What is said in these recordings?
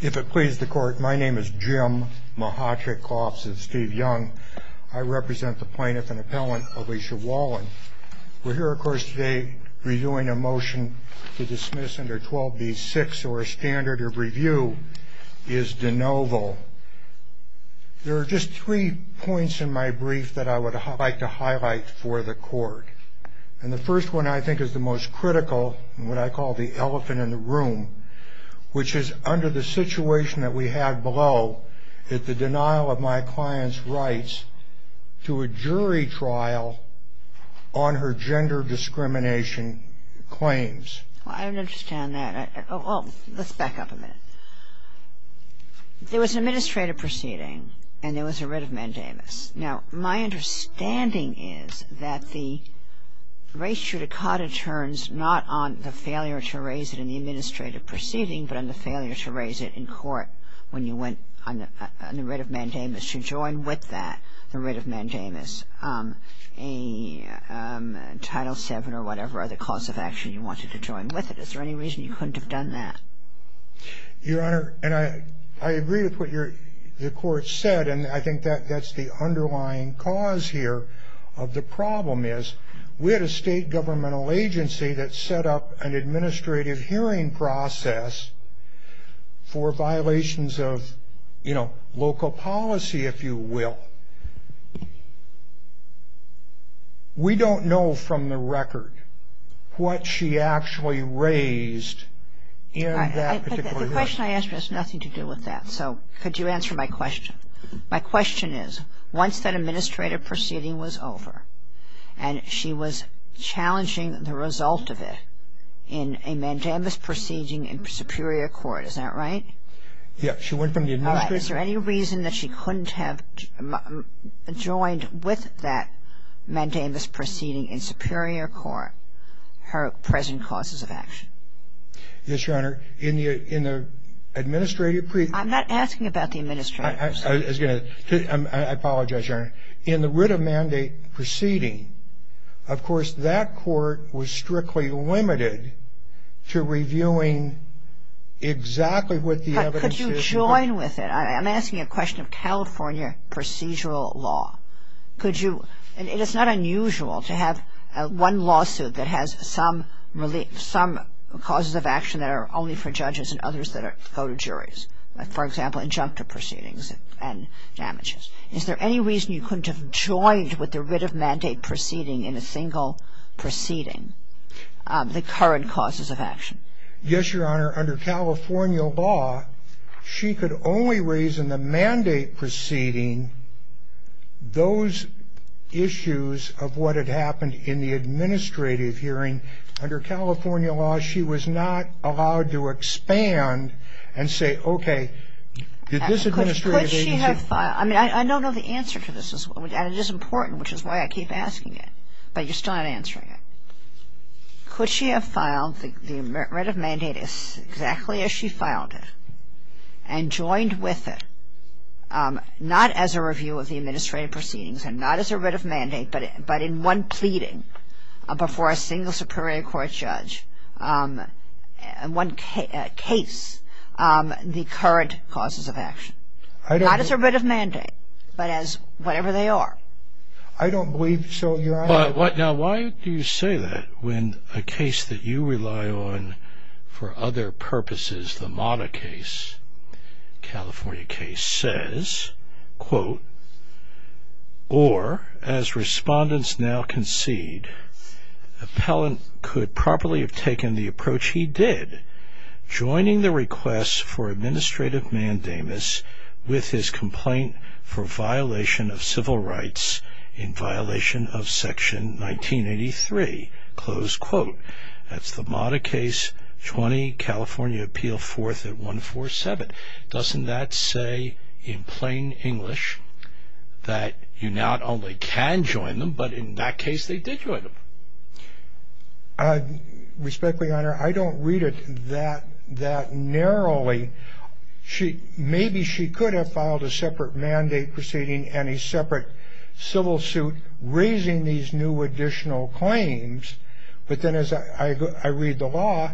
If it pleases the court, my name is Jim Mahatrick-Kloffs and Steve Young. I represent the plaintiff and appellant Alicia Wolin. We're here of course today reviewing a motion to dismiss under 12b-6 or a standard of review is de novo. There are just three points in my brief that I would like to highlight for the court. And the first one I think is the most critical and what I call the elephant in the room, which is under the situation that we have below is the denial of my client's rights to a jury trial on her gender discrimination claims. I don't understand that. Let's back up a minute. There was an administrative proceeding and there was a writ of mandamus. Now my understanding is that the res judicata turns not on the failure to raise it in the administrative proceeding but on the failure to raise it in court when you went on the writ of mandamus to join with that the writ of mandamus. Title VII or whatever are the cause of action you wanted to join with it. Is there any reason you couldn't have done that? Your Honor, and I agree with what the court said and I think that's the underlying cause here of the problem is we had a state governmental agency that set up an administrative hearing process for violations of local policy if you will. But we don't know from the record what she actually raised in that particular hearing. The question I asked has nothing to do with that. So could you answer my question? My question is once that administrative proceeding was over and she was challenging the result of it in a mandamus proceeding in Superior Court. Is that right? Yes. She went from the administrative. Is there any reason that she couldn't have joined with that mandamus proceeding in Superior Court her present causes of action? Yes, Your Honor. In the administrative. I'm not asking about the administrative. I apologize, Your Honor. In the writ of mandate proceeding, of course, that court was strictly limited to reviewing exactly what the evidence. Could you join with it? I'm asking a question of California procedural law. Could you? It is not unusual to have one lawsuit that has some causes of action that are only for judges and others that go to juries. For example, injunctive proceedings and damages. Is there any reason you couldn't have joined with the writ of mandate proceeding in a single proceeding the current causes of action? Yes, Your Honor. Under California law, she could only reason the mandate proceeding, those issues of what had happened in the administrative hearing. Under California law, she was not allowed to expand and say, okay, did this administrative agency ---- Could she have filed? I mean, I don't know the answer to this, and it is important, which is why I keep asking it. But you're still not answering it. Could she have filed the writ of mandate exactly as she filed it and joined with it, not as a review of the administrative proceedings and not as a writ of mandate, but in one pleading before a single superior court judge, one case, the current causes of action? Not as a writ of mandate, but as whatever they are. I don't believe so, Your Honor. Now, why do you say that when a case that you rely on for other purposes, the Mata case, California case, says, quote, or as respondents now concede, appellant could properly have taken the approach he did, joining the request for administrative mandamus with his complaint for violation of civil rights in violation of section 1983, close quote. That's the Mata case, 20, California appeal fourth at 147. Doesn't that say in plain English that you not only can join them, but in that case they did join them? Respectfully, Your Honor, I don't read it that narrowly. Maybe she could have filed a separate mandate proceeding and a separate civil suit raising these new additional claims, but then as I read the law,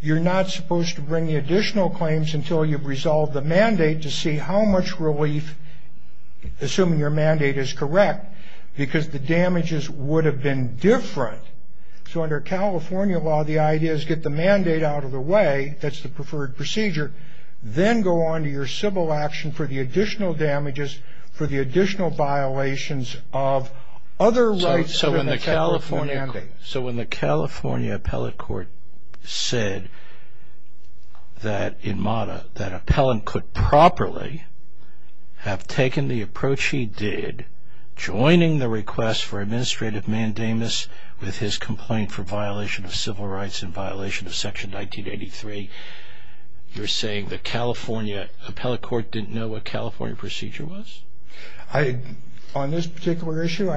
you're not supposed to bring the additional claims until you've resolved the mandate to see how much relief, assuming your mandate is correct, because the damages would have been different. So under California law, the idea is get the mandate out of the way, that's the preferred procedure, then go on to your civil action for the additional damages for the additional violations of other rights. So when the California appellate court said that in Mata that appellant could properly have taken the approach he did, joining the request for administrative mandamus with his complaint for violation of civil rights in violation of section 1983, you're saying the California appellate court didn't know what California procedure was? On this particular issue,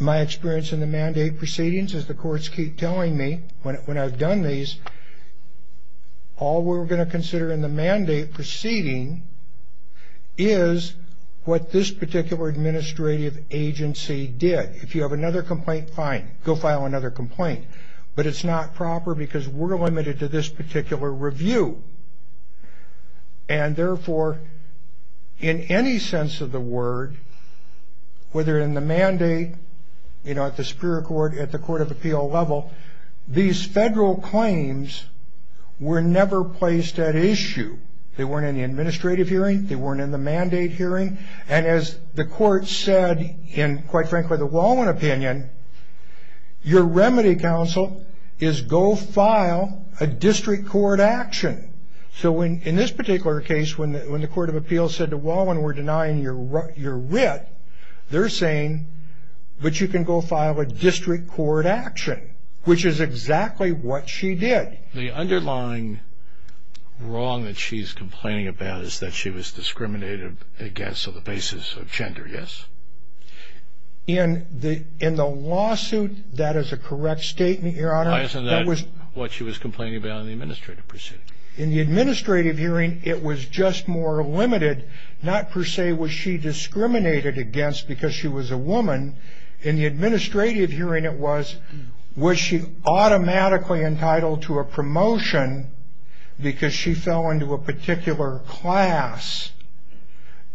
my experience in the mandate proceedings, as the courts keep telling me when I've done these, all we're going to consider in the mandate proceeding is what this particular administrative agency did. If you have another complaint, fine, go file another complaint. But it's not proper because we're limited to this particular review. And therefore, in any sense of the word, whether in the mandate, you know, at the Superior Court, at the Court of Appeal level, these federal claims were never placed at issue. They weren't in the administrative hearing. They weren't in the mandate hearing. And as the court said in, quite frankly, the Wallin opinion, your remedy, counsel, is go file a district court action. So in this particular case, when the Court of Appeal said to Wallin, we're denying your writ, they're saying, but you can go file a district court action, which is exactly what she did. The underlying wrong that she's complaining about is that she was discriminated against on the basis of gender, yes? In the lawsuit, that is a correct statement, Your Honor. Why isn't that what she was complaining about in the administrative proceeding? In the administrative hearing, it was just more limited. Not per se was she discriminated against because she was a woman. In the administrative hearing, it was, was she automatically entitled to a promotion because she fell into a particular class?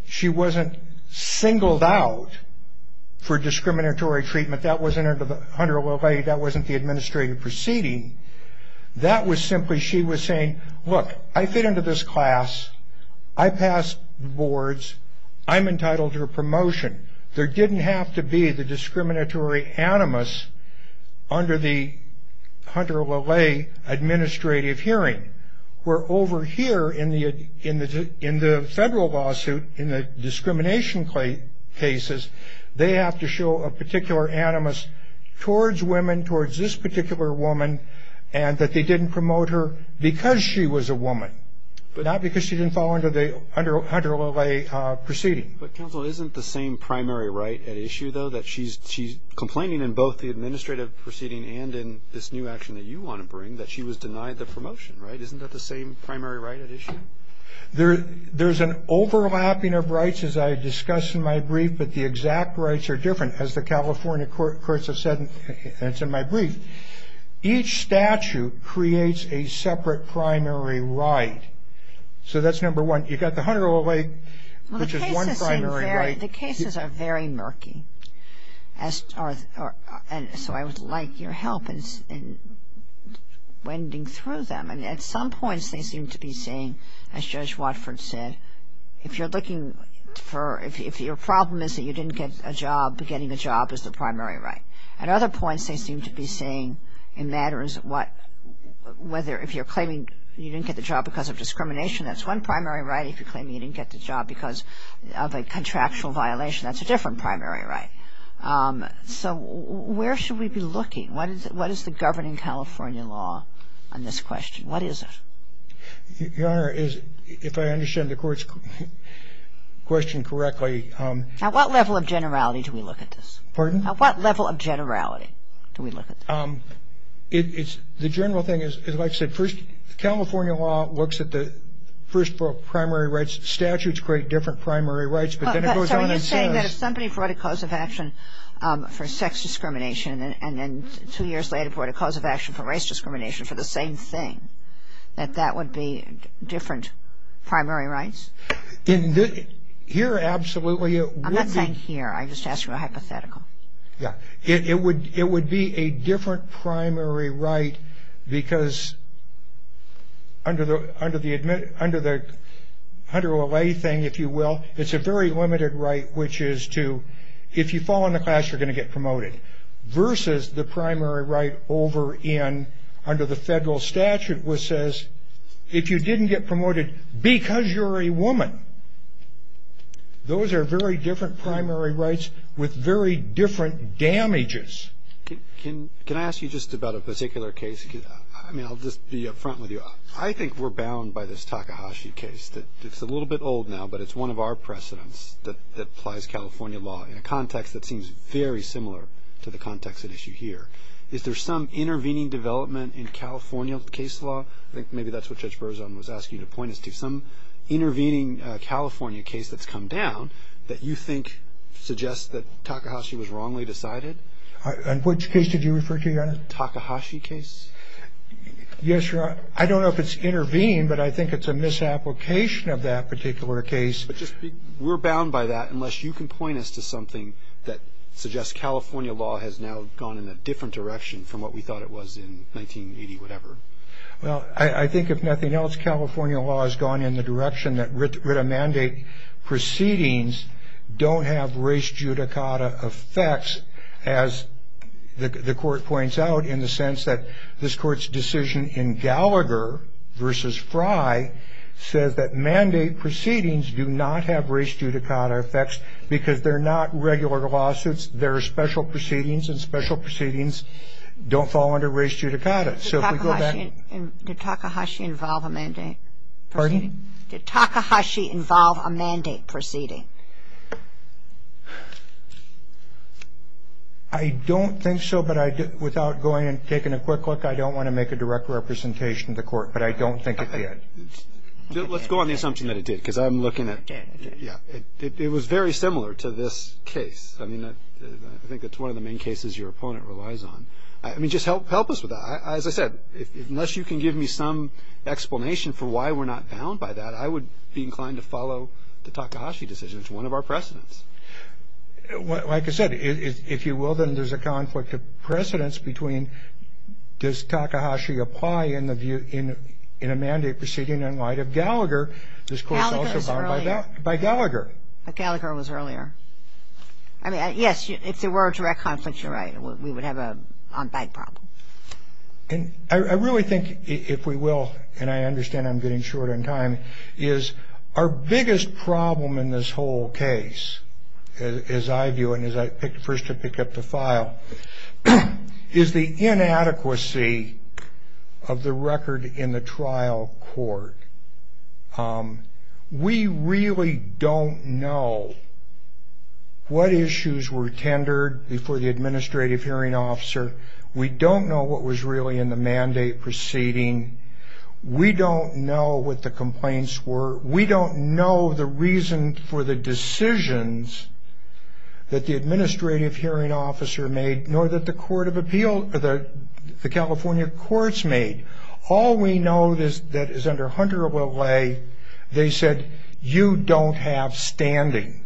She wasn't singled out for discriminatory treatment. That wasn't under the 101A. That wasn't the administrative proceeding. That was simply she was saying, look, I fit into this class. I pass boards. I'm entitled to a promotion. There didn't have to be the discriminatory animus under the Hunter-LaLaye administrative hearing, where over here in the federal lawsuit, in the discrimination cases, they have to show a particular animus towards women, towards this particular woman, and that they didn't promote her because she was a woman, but not because she didn't fall under the Hunter-LaLaye proceeding. But, counsel, isn't the same primary right at issue, though, that she's complaining in both the administrative proceeding and in this new action that you want to bring, that she was denied the promotion, right? Isn't that the same primary right at issue? There's an overlapping of rights, as I discussed in my brief, but the exact rights are different. As the California courts have said, and it's in my brief, each statute creates a separate primary right. So that's number one. You've got the Hunter-LaLaye, which is one primary right. The cases are very murky, and so I would like your help in wending through them. At some points they seem to be saying, as Judge Watford said, if you're looking for – if your problem is that you didn't get a job, getting a job is the primary right. At other points they seem to be saying it matters what – if you're claiming you didn't get the job because of discrimination, that's one primary right. If you're claiming you didn't get the job because of a contractual violation, that's a different primary right. So where should we be looking? What is the governing California law on this question? What is it? Your Honor, if I understand the Court's question correctly – At what level of generality do we look at this? Pardon? At what level of generality do we look at this? The general thing is, like I said, California law looks at the first four primary rights. Statutes create different primary rights, but then it goes on and says – So are you saying that if somebody brought a cause of action for sex discrimination and then two years later brought a cause of action for race discrimination for the same thing, that that would be different primary rights? Here, absolutely, it would be – I'm not saying here. I'm just asking a hypothetical. It would be a different primary right because under the HUNTER-O-LAY thing, if you will, it's a very limited right, which is to – if you fall in the class, you're going to get promoted, versus the primary right over in – under the federal statute, which says, if you didn't get promoted because you're a woman, those are very different primary rights with very different damages. Can I ask you just about a particular case? I mean, I'll just be up front with you. I think we're bound by this Takahashi case. It's a little bit old now, but it's one of our precedents that applies California law in a context that seems very similar to the context at issue here. Is there some intervening development in California case law? I think maybe that's what Judge Berzon was asking you to point us to, some intervening California case that's come down that you think suggests that Takahashi was wrongly decided. In which case did you refer to, Your Honor? Takahashi case. Yes, Your Honor. I don't know if it's intervened, but I think it's a misapplication of that particular case. We're bound by that unless you can point us to something that suggests California law has now gone in a different direction from what we thought it was in 1980-whatever. Well, I think if nothing else, California law has gone in the direction that writ of mandate proceedings don't have race judicata effects, as the Court points out, in the sense that this Court's decision in Gallagher v. Frye says that mandate proceedings do not have race judicata effects because they're not regular lawsuits. They're special proceedings, and special proceedings don't fall under race judicata. So if we go back- Did Takahashi involve a mandate proceeding? Pardon? Did Takahashi involve a mandate proceeding? I don't think so, but without going and taking a quick look, I don't want to make a direct representation to the Court, but I don't think it did. Let's go on the assumption that it did, because I'm looking at- It did. Yeah. It was very similar to this case. I mean, I think that's one of the main cases your opponent relies on. I mean, just help us with that. As I said, unless you can give me some explanation for why we're not bound by that, I would be inclined to follow the Takahashi decision. It's one of our precedents. Like I said, if you will, then there's a conflict of precedents between does Takahashi apply in a mandate proceeding in light of Gallagher. Gallagher was earlier. This Court's also bound by Gallagher. Gallagher was earlier. I mean, yes, if there were a direct conflict, you're right. We would have an on-bank problem. And I really think, if we will, and I understand I'm getting short on time, is our biggest problem in this whole case, as I view it, and as I first picked up the file, is the inadequacy of the record in the trial court. We really don't know what issues were tendered before the administrative hearing officer. We don't know what was really in the mandate proceeding. We don't know what the complaints were. We don't know the reason for the decisions that the administrative hearing officer made, nor that the California courts made. All we know that is under Hunter of L.A., they said, you don't have standing.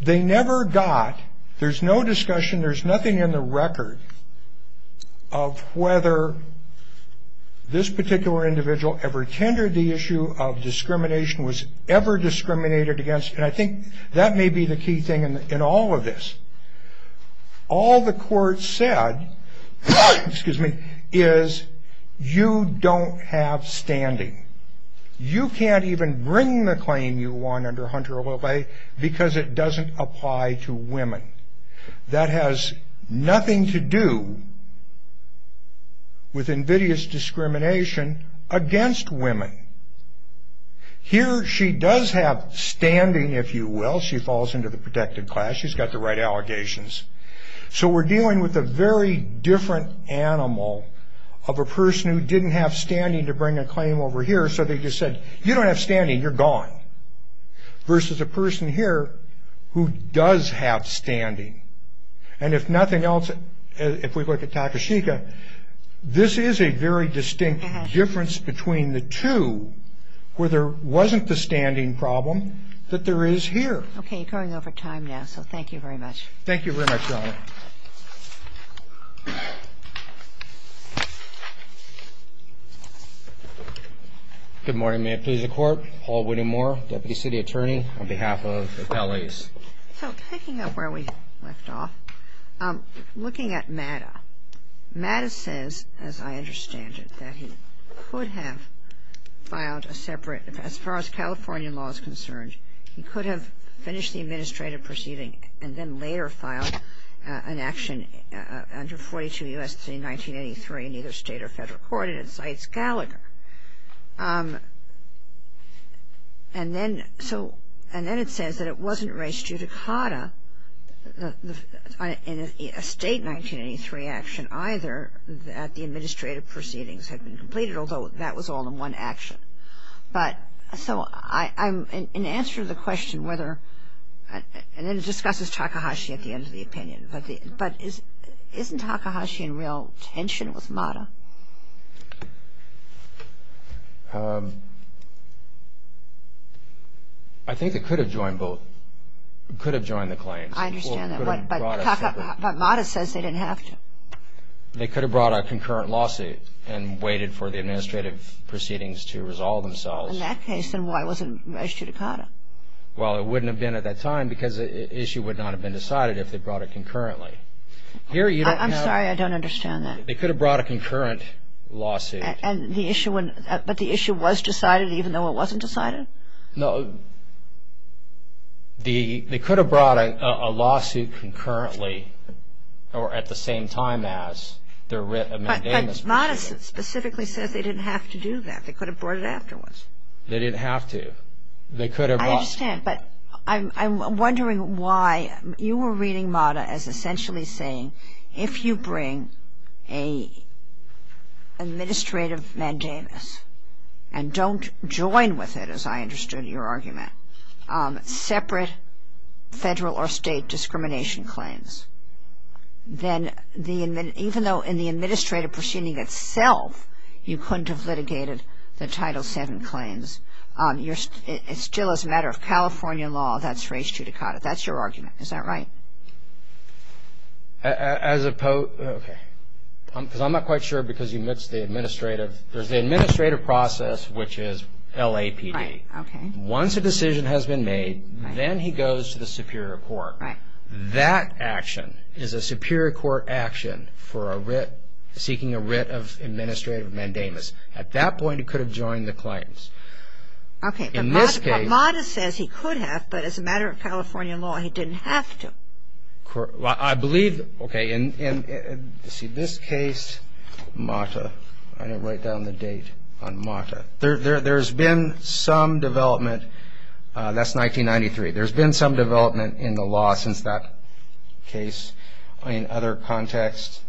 They never got, there's no discussion, there's nothing in the record, of whether this particular individual ever tendered the issue of discrimination, was ever discriminated against. And I think that may be the key thing in all of this. All the courts said is, you don't have standing. You can't even bring the claim you won under Hunter of L.A. because it doesn't apply to women. That has nothing to do with invidious discrimination against women. Here, she does have standing, if you will. She falls into the protected class. She's got the right allegations. So we're dealing with a very different animal of a person who didn't have standing to bring a claim over here. So they just said, you don't have standing, you're gone. Versus a person here who does have standing. And if nothing else, if we look at Takashika, this is a very distinct difference between the two where there wasn't the standing problem that there is here. Okay, you're going over time now, so thank you very much. Thank you very much, Your Honor. Good morning, may it please the Court. Paul Whittemore, Deputy City Attorney on behalf of L.A.'s. So picking up where we left off, looking at Mata. Mata says, as I understand it, that he could have filed a separate, as far as California law is concerned, he could have finished the administrative proceeding and then later filed an action under 42 U.S.C. 1983 in either state or federal court, and it cites Gallagher. And then it says that it wasn't raised due to Cotta in a state 1983 action either that the administrative proceedings had been completed, although that was all in one action. So in answer to the question whether, and then it discusses Takahashi at the end of the opinion, but isn't Takahashi in real tension with Mata? I think they could have joined both, could have joined the claims. I understand that, but Mata says they didn't have to. They could have brought a concurrent lawsuit and waited for the administrative proceedings to resolve themselves. In that case, then why wasn't it raised due to Cotta? Well, it wouldn't have been at that time because the issue would not have been decided if they brought it concurrently. I'm sorry, I don't understand that. They could have brought a concurrent lawsuit. But the issue was decided even though it wasn't decided? No, they could have brought a lawsuit concurrently or at the same time as their mandamus was written. But Mata specifically says they didn't have to do that. They could have brought it afterwards. They didn't have to. They could have brought it. I understand, but I'm wondering why you were reading Mata as essentially saying if you bring an administrative mandamus and don't join with it, as I understood your argument, separate federal or state discrimination claims, then even though in the administrative proceeding itself you couldn't have litigated the Title VII claims, it still is a matter of California law that's raised due to Cotta. That's your argument. Is that right? I'm not quite sure because you missed the administrative. There's the administrative process, which is LAPD. Once a decision has been made, then he goes to the superior court. That action is a superior court action for seeking a writ of administrative mandamus. At that point, he could have joined the claims. Okay, but Mata says he could have, but as a matter of California law, he didn't have to. I believe, okay, in this case, Mata, I didn't write down the date on Mata. There's been some development. That's 1993. There's been some development in the law since that case in other contexts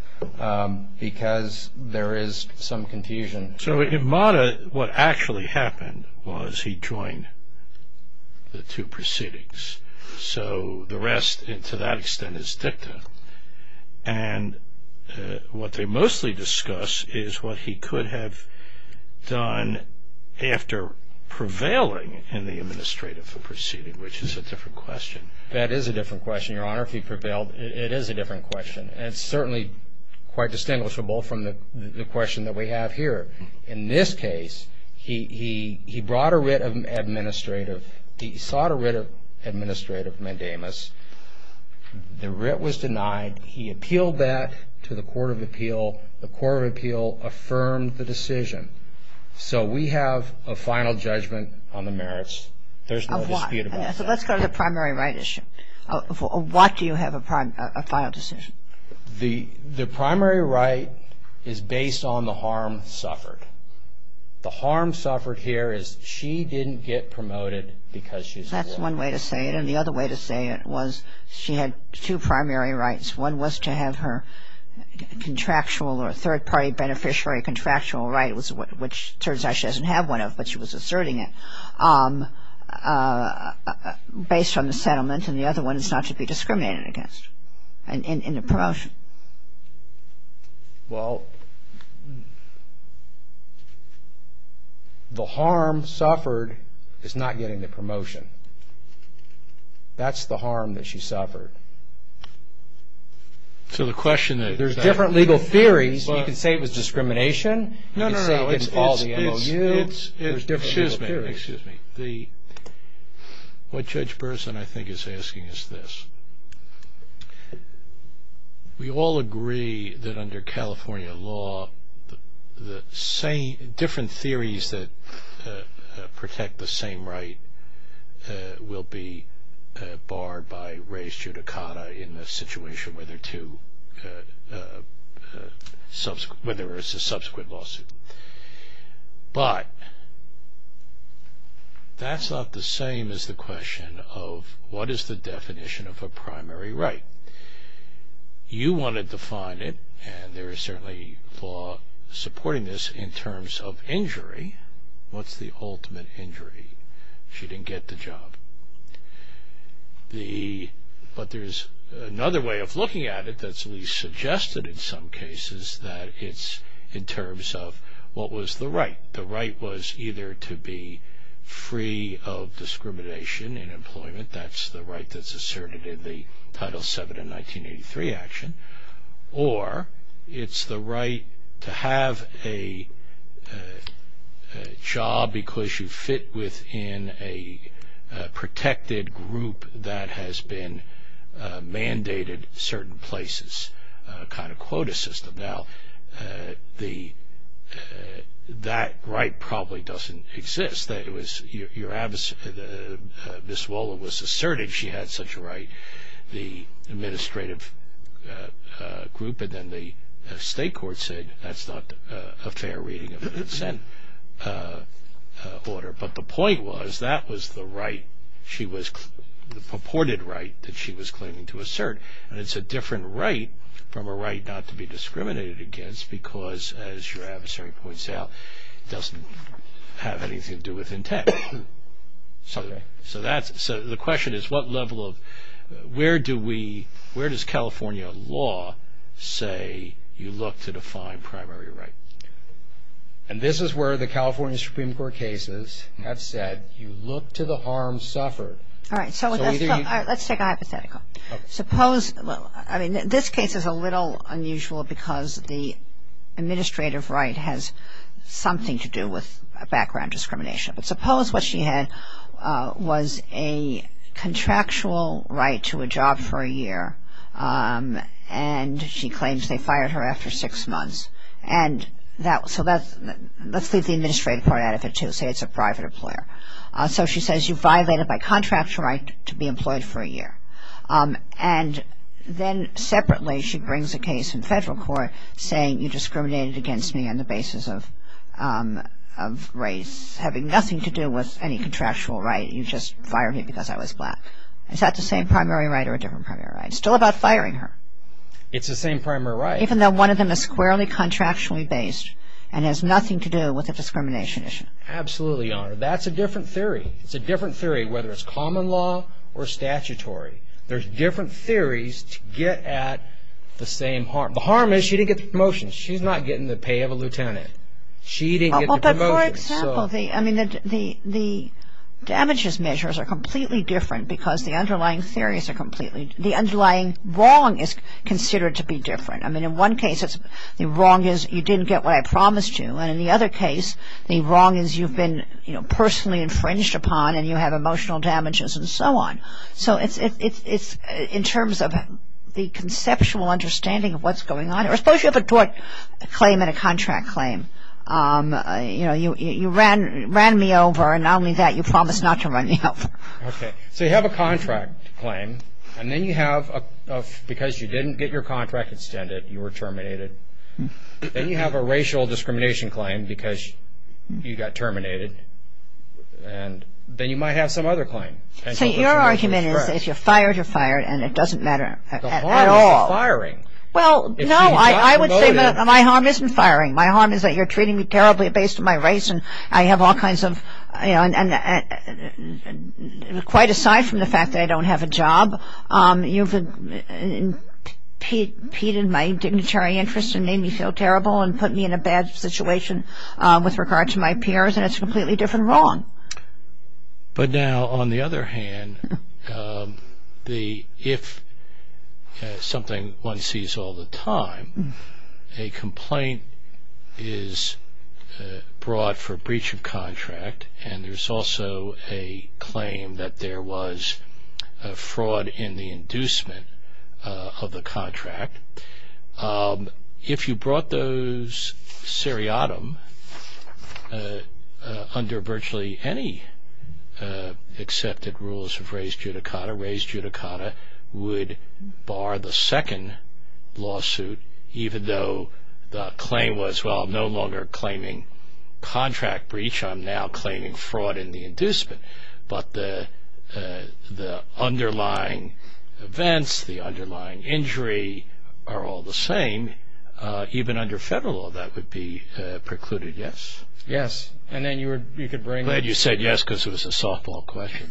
because there is some confusion. So in Mata, what actually happened was he joined the two proceedings. So the rest, to that extent, is dicta. And what they mostly discuss is what he could have done after prevailing in the administrative proceeding, which is a different question. That is a different question, Your Honor. If he prevailed, it is a different question. And it's certainly quite distinguishable from the question that we have here. In this case, he brought a writ of administrative. He sought a writ of administrative mandamus. The writ was denied. He appealed that to the court of appeal. The court of appeal affirmed the decision. So we have a final judgment on the merits. There's no dispute about that. So let's go to the primary right issue. What do you have a final decision? The primary right is based on the harm suffered. The harm suffered here is she didn't get promoted because she's a woman. That's one way to say it. And the other way to say it was she had two primary rights. One was to have her contractual or third-party beneficiary contractual right, which it turns out she doesn't have one of, but she was asserting it, based on the settlement. And the other one is not to be discriminated against in the promotion. Well, the harm suffered is not getting the promotion. That's the harm that she suffered. So the question that there's that. There's different legal theories. You can say it was discrimination. You can say it was all the MOU. Excuse me. What Judge Burson, I think, is asking is this. We all agree that under California law, different theories that protect the same right will be barred by res judicata in the situation whether it's a subsequent lawsuit. But that's not the same as the question of what is the definition of a primary right. You want to define it, and there is certainly law supporting this in terms of injury. What's the ultimate injury? She didn't get the job. But there's another way of looking at it that's at least suggested in some cases that it's in terms of what was the right. The right was either to be free of discrimination in employment. That's the right that's asserted in the Title VII in 1983 action. Or it's the right to have a job because you fit within a protected group that has been mandated certain places kind of quota system. Now, that right probably doesn't exist. Ms. Waller was assertive. She had such a right, the administrative group, and then the state court said that's not a fair reading of the consent order. But the point was that was the right, the purported right that she was claiming to assert. And it's a different right from a right not to be discriminated against because as your adversary points out, it doesn't have anything to do with intent. So the question is where does California law say you look to define primary right? And this is where the California Supreme Court cases have said you look to the harm suffered. All right. Let's take a hypothetical. Suppose, I mean, this case is a little unusual because the administrative right has something to do with background discrimination. But suppose what she had was a contractual right to a job for a year and she claims they fired her after six months. And so let's leave the administrative part out of it too, say it's a private employer. So she says you violated my contractual right to be employed for a year. And then separately she brings a case in federal court saying you discriminated against me on the basis of race, having nothing to do with any contractual right. You just fired me because I was black. Is that the same primary right or a different primary right? It's still about firing her. It's the same primary right. Even though one of them is squarely contractually based and has nothing to do with a discrimination issue. Absolutely, Your Honor. That's a different theory. It's a different theory whether it's common law or statutory. There's different theories to get at the same harm. The harm is she didn't get the promotion. She's not getting the pay of a lieutenant. She didn't get the promotion. But for example, I mean, the damages measures are completely different because the underlying theories are completely different. The underlying wrong is considered to be different. I mean, in one case the wrong is you didn't get what I promised you. And in the other case the wrong is you've been, you know, personally infringed upon and you have emotional damages and so on. So it's in terms of the conceptual understanding of what's going on. Or suppose you have a tort claim and a contract claim. You know, you ran me over, and not only that, you promised not to run me over. So you have a contract claim, and then you have because you didn't get your contract extended, you were terminated. Then you have a racial discrimination claim because you got terminated. And then you might have some other claim. So your argument is if you're fired, you're fired, and it doesn't matter at all. The harm is you're firing. Well, no, I would say my harm isn't firing. My harm is that you're treating me terribly based on my race, and I have all kinds of, you know, you've impeded my dignitary interest and made me feel terrible and put me in a bad situation with regard to my peers. And it's a completely different wrong. But now, on the other hand, if something one sees all the time, a complaint is brought for breach of contract, and there's also a claim that there was fraud in the inducement of the contract. If you brought those seriatim under virtually any accepted rules of res judicata, res judicata would bar the second lawsuit, even though the claim was, well, I'm no longer claiming contract breach. I'm now claiming fraud in the inducement. But the underlying events, the underlying injury are all the same. Even under federal law, that would be precluded, yes? Yes. And then you could bring it. I'm glad you said yes because it was a softball question.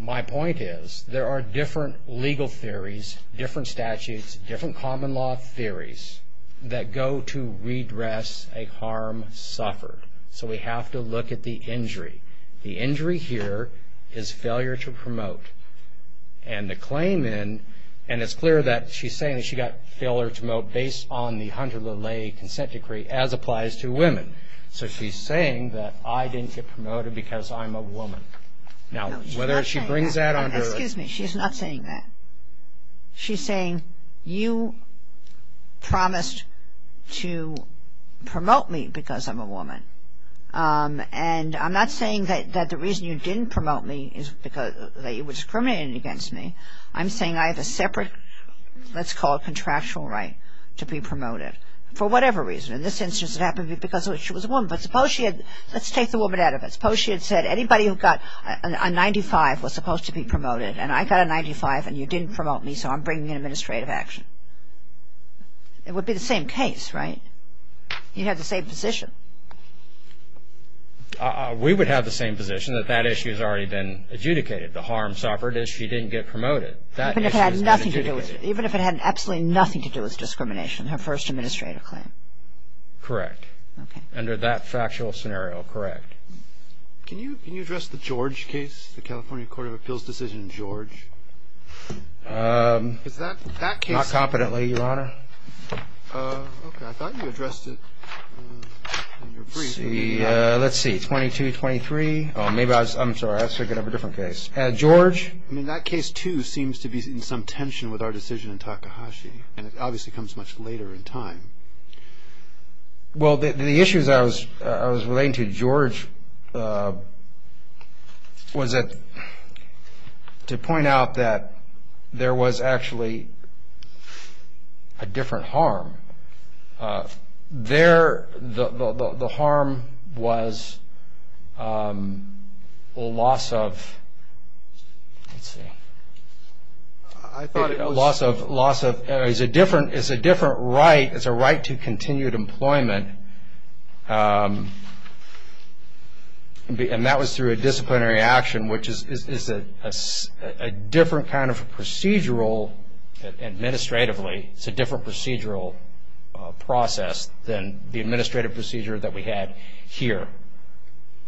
My point is there are different legal theories, different statutes, different common law theories that go to redress a harm suffered. So we have to look at the injury. The injury here is failure to promote. And the claim in, and it's clear that she's saying that she got failure to promote based on the Hunter-LaLaye consent decree as applies to women. So she's saying that I didn't get promoted because I'm a woman. Now, whether she brings that under. Excuse me. She's not saying that. She's saying you promised to promote me because I'm a woman. And I'm not saying that the reason you didn't promote me is because that you were discriminating against me. I'm saying I have a separate, let's call it contractual right to be promoted for whatever reason. In this instance, it happened because she was a woman. But suppose she had, let's take the woman out of it. Suppose she had said anybody who got a 95 was supposed to be promoted and I got a 95 and you didn't promote me so I'm bringing in administrative action. It would be the same case, right? You'd have the same position. We would have the same position that that issue has already been adjudicated. The harm suffered is she didn't get promoted. That issue has been adjudicated. Even if it had absolutely nothing to do with discrimination, her first administrative claim. Correct. Okay. Under that factual scenario, correct. Can you address the George case? The California Court of Appeals decision, George? Is that case? Not competently, Your Honor. Okay. I thought you addressed it in your brief. Let's see. 22, 23. Oh, maybe I was, I'm sorry. I was thinking of a different case. George? I mean, that case too seems to be in some tension with our decision in Takahashi. And it obviously comes much later in time. Well, the issues I was relating to George was to point out that there was actually a different harm. There, the harm was a loss of, let's see. I thought it was. Loss of, it's a different right, it's a right to continued employment. And that was through a disciplinary action, which is a different kind of procedural administratively. It's a different procedural process than the administrative procedure that we had here.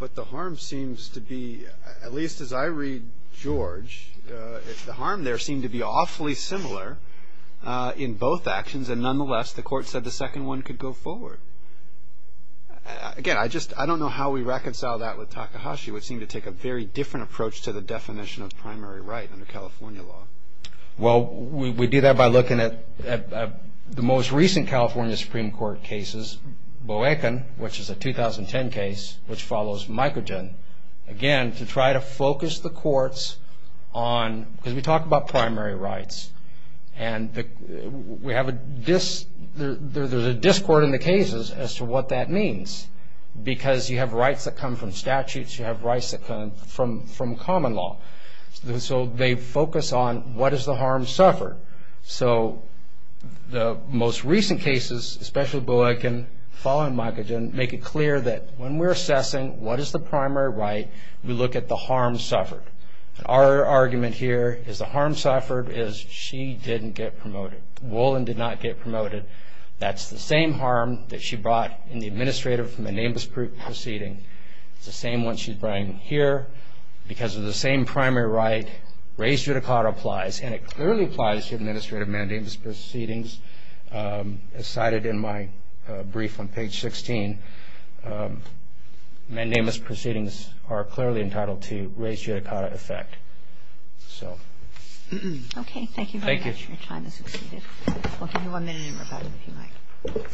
But the harm seems to be, at least as I read George, the harm there seemed to be awfully similar in both actions. And nonetheless, the court said the second one could go forward. Again, I just, I don't know how we reconcile that with Takahashi, which seemed to take a very different approach to the definition of primary right under California law. Well, we do that by looking at the most recent California Supreme Court cases. Boeken, which is a 2010 case, which follows Microgen. Again, to try to focus the courts on, because we talk about primary rights. And we have a, there's a discord in the cases as to what that means. Because you have rights that come from statutes, you have rights that come from common law. So they focus on what is the harm suffered. So the most recent cases, especially Boeken, following Microgen, make it clear that when we're assessing what is the primary right, we look at the harm suffered. And our argument here is the harm suffered is she didn't get promoted. Wolin did not get promoted. That's the same harm that she brought in the administrative Menambas proceeding. It's the same one she's bringing here because of the same primary right. Raised judicata applies, and it clearly applies to administrative Menambas proceedings. As cited in my brief on page 16, Menambas proceedings are clearly entitled to raised judicata effect. So. Okay, thank you. Thank you. Your time has succeeded. We'll give you one minute in rebuttal, if you like.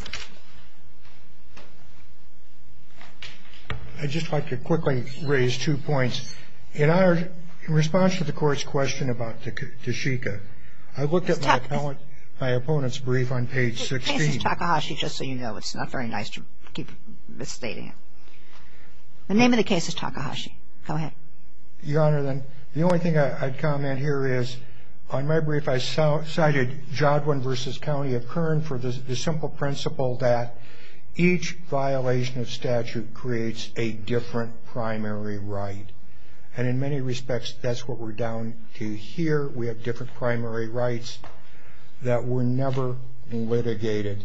I'd just like to quickly raise two points. In our response to the Court's question about Tshika, I looked at my opponent's brief on page 16. The case is Takahashi, just so you know. It's not very nice to keep misstating it. The name of the case is Takahashi. Go ahead. Your Honor, the only thing I'd comment here is on my brief, I cited Jodwin v. County of Kern for the simple principle that each violation of statute creates a different primary right. And in many respects, that's what we're down to here. We have different primary rights that were never litigated.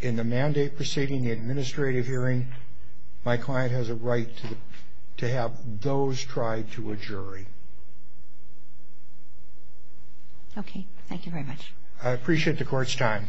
In the mandate proceeding, the administrative hearing, my client has a right to have those tried to a jury. Okay. Thank you very much. I appreciate the Court's time. Thank you.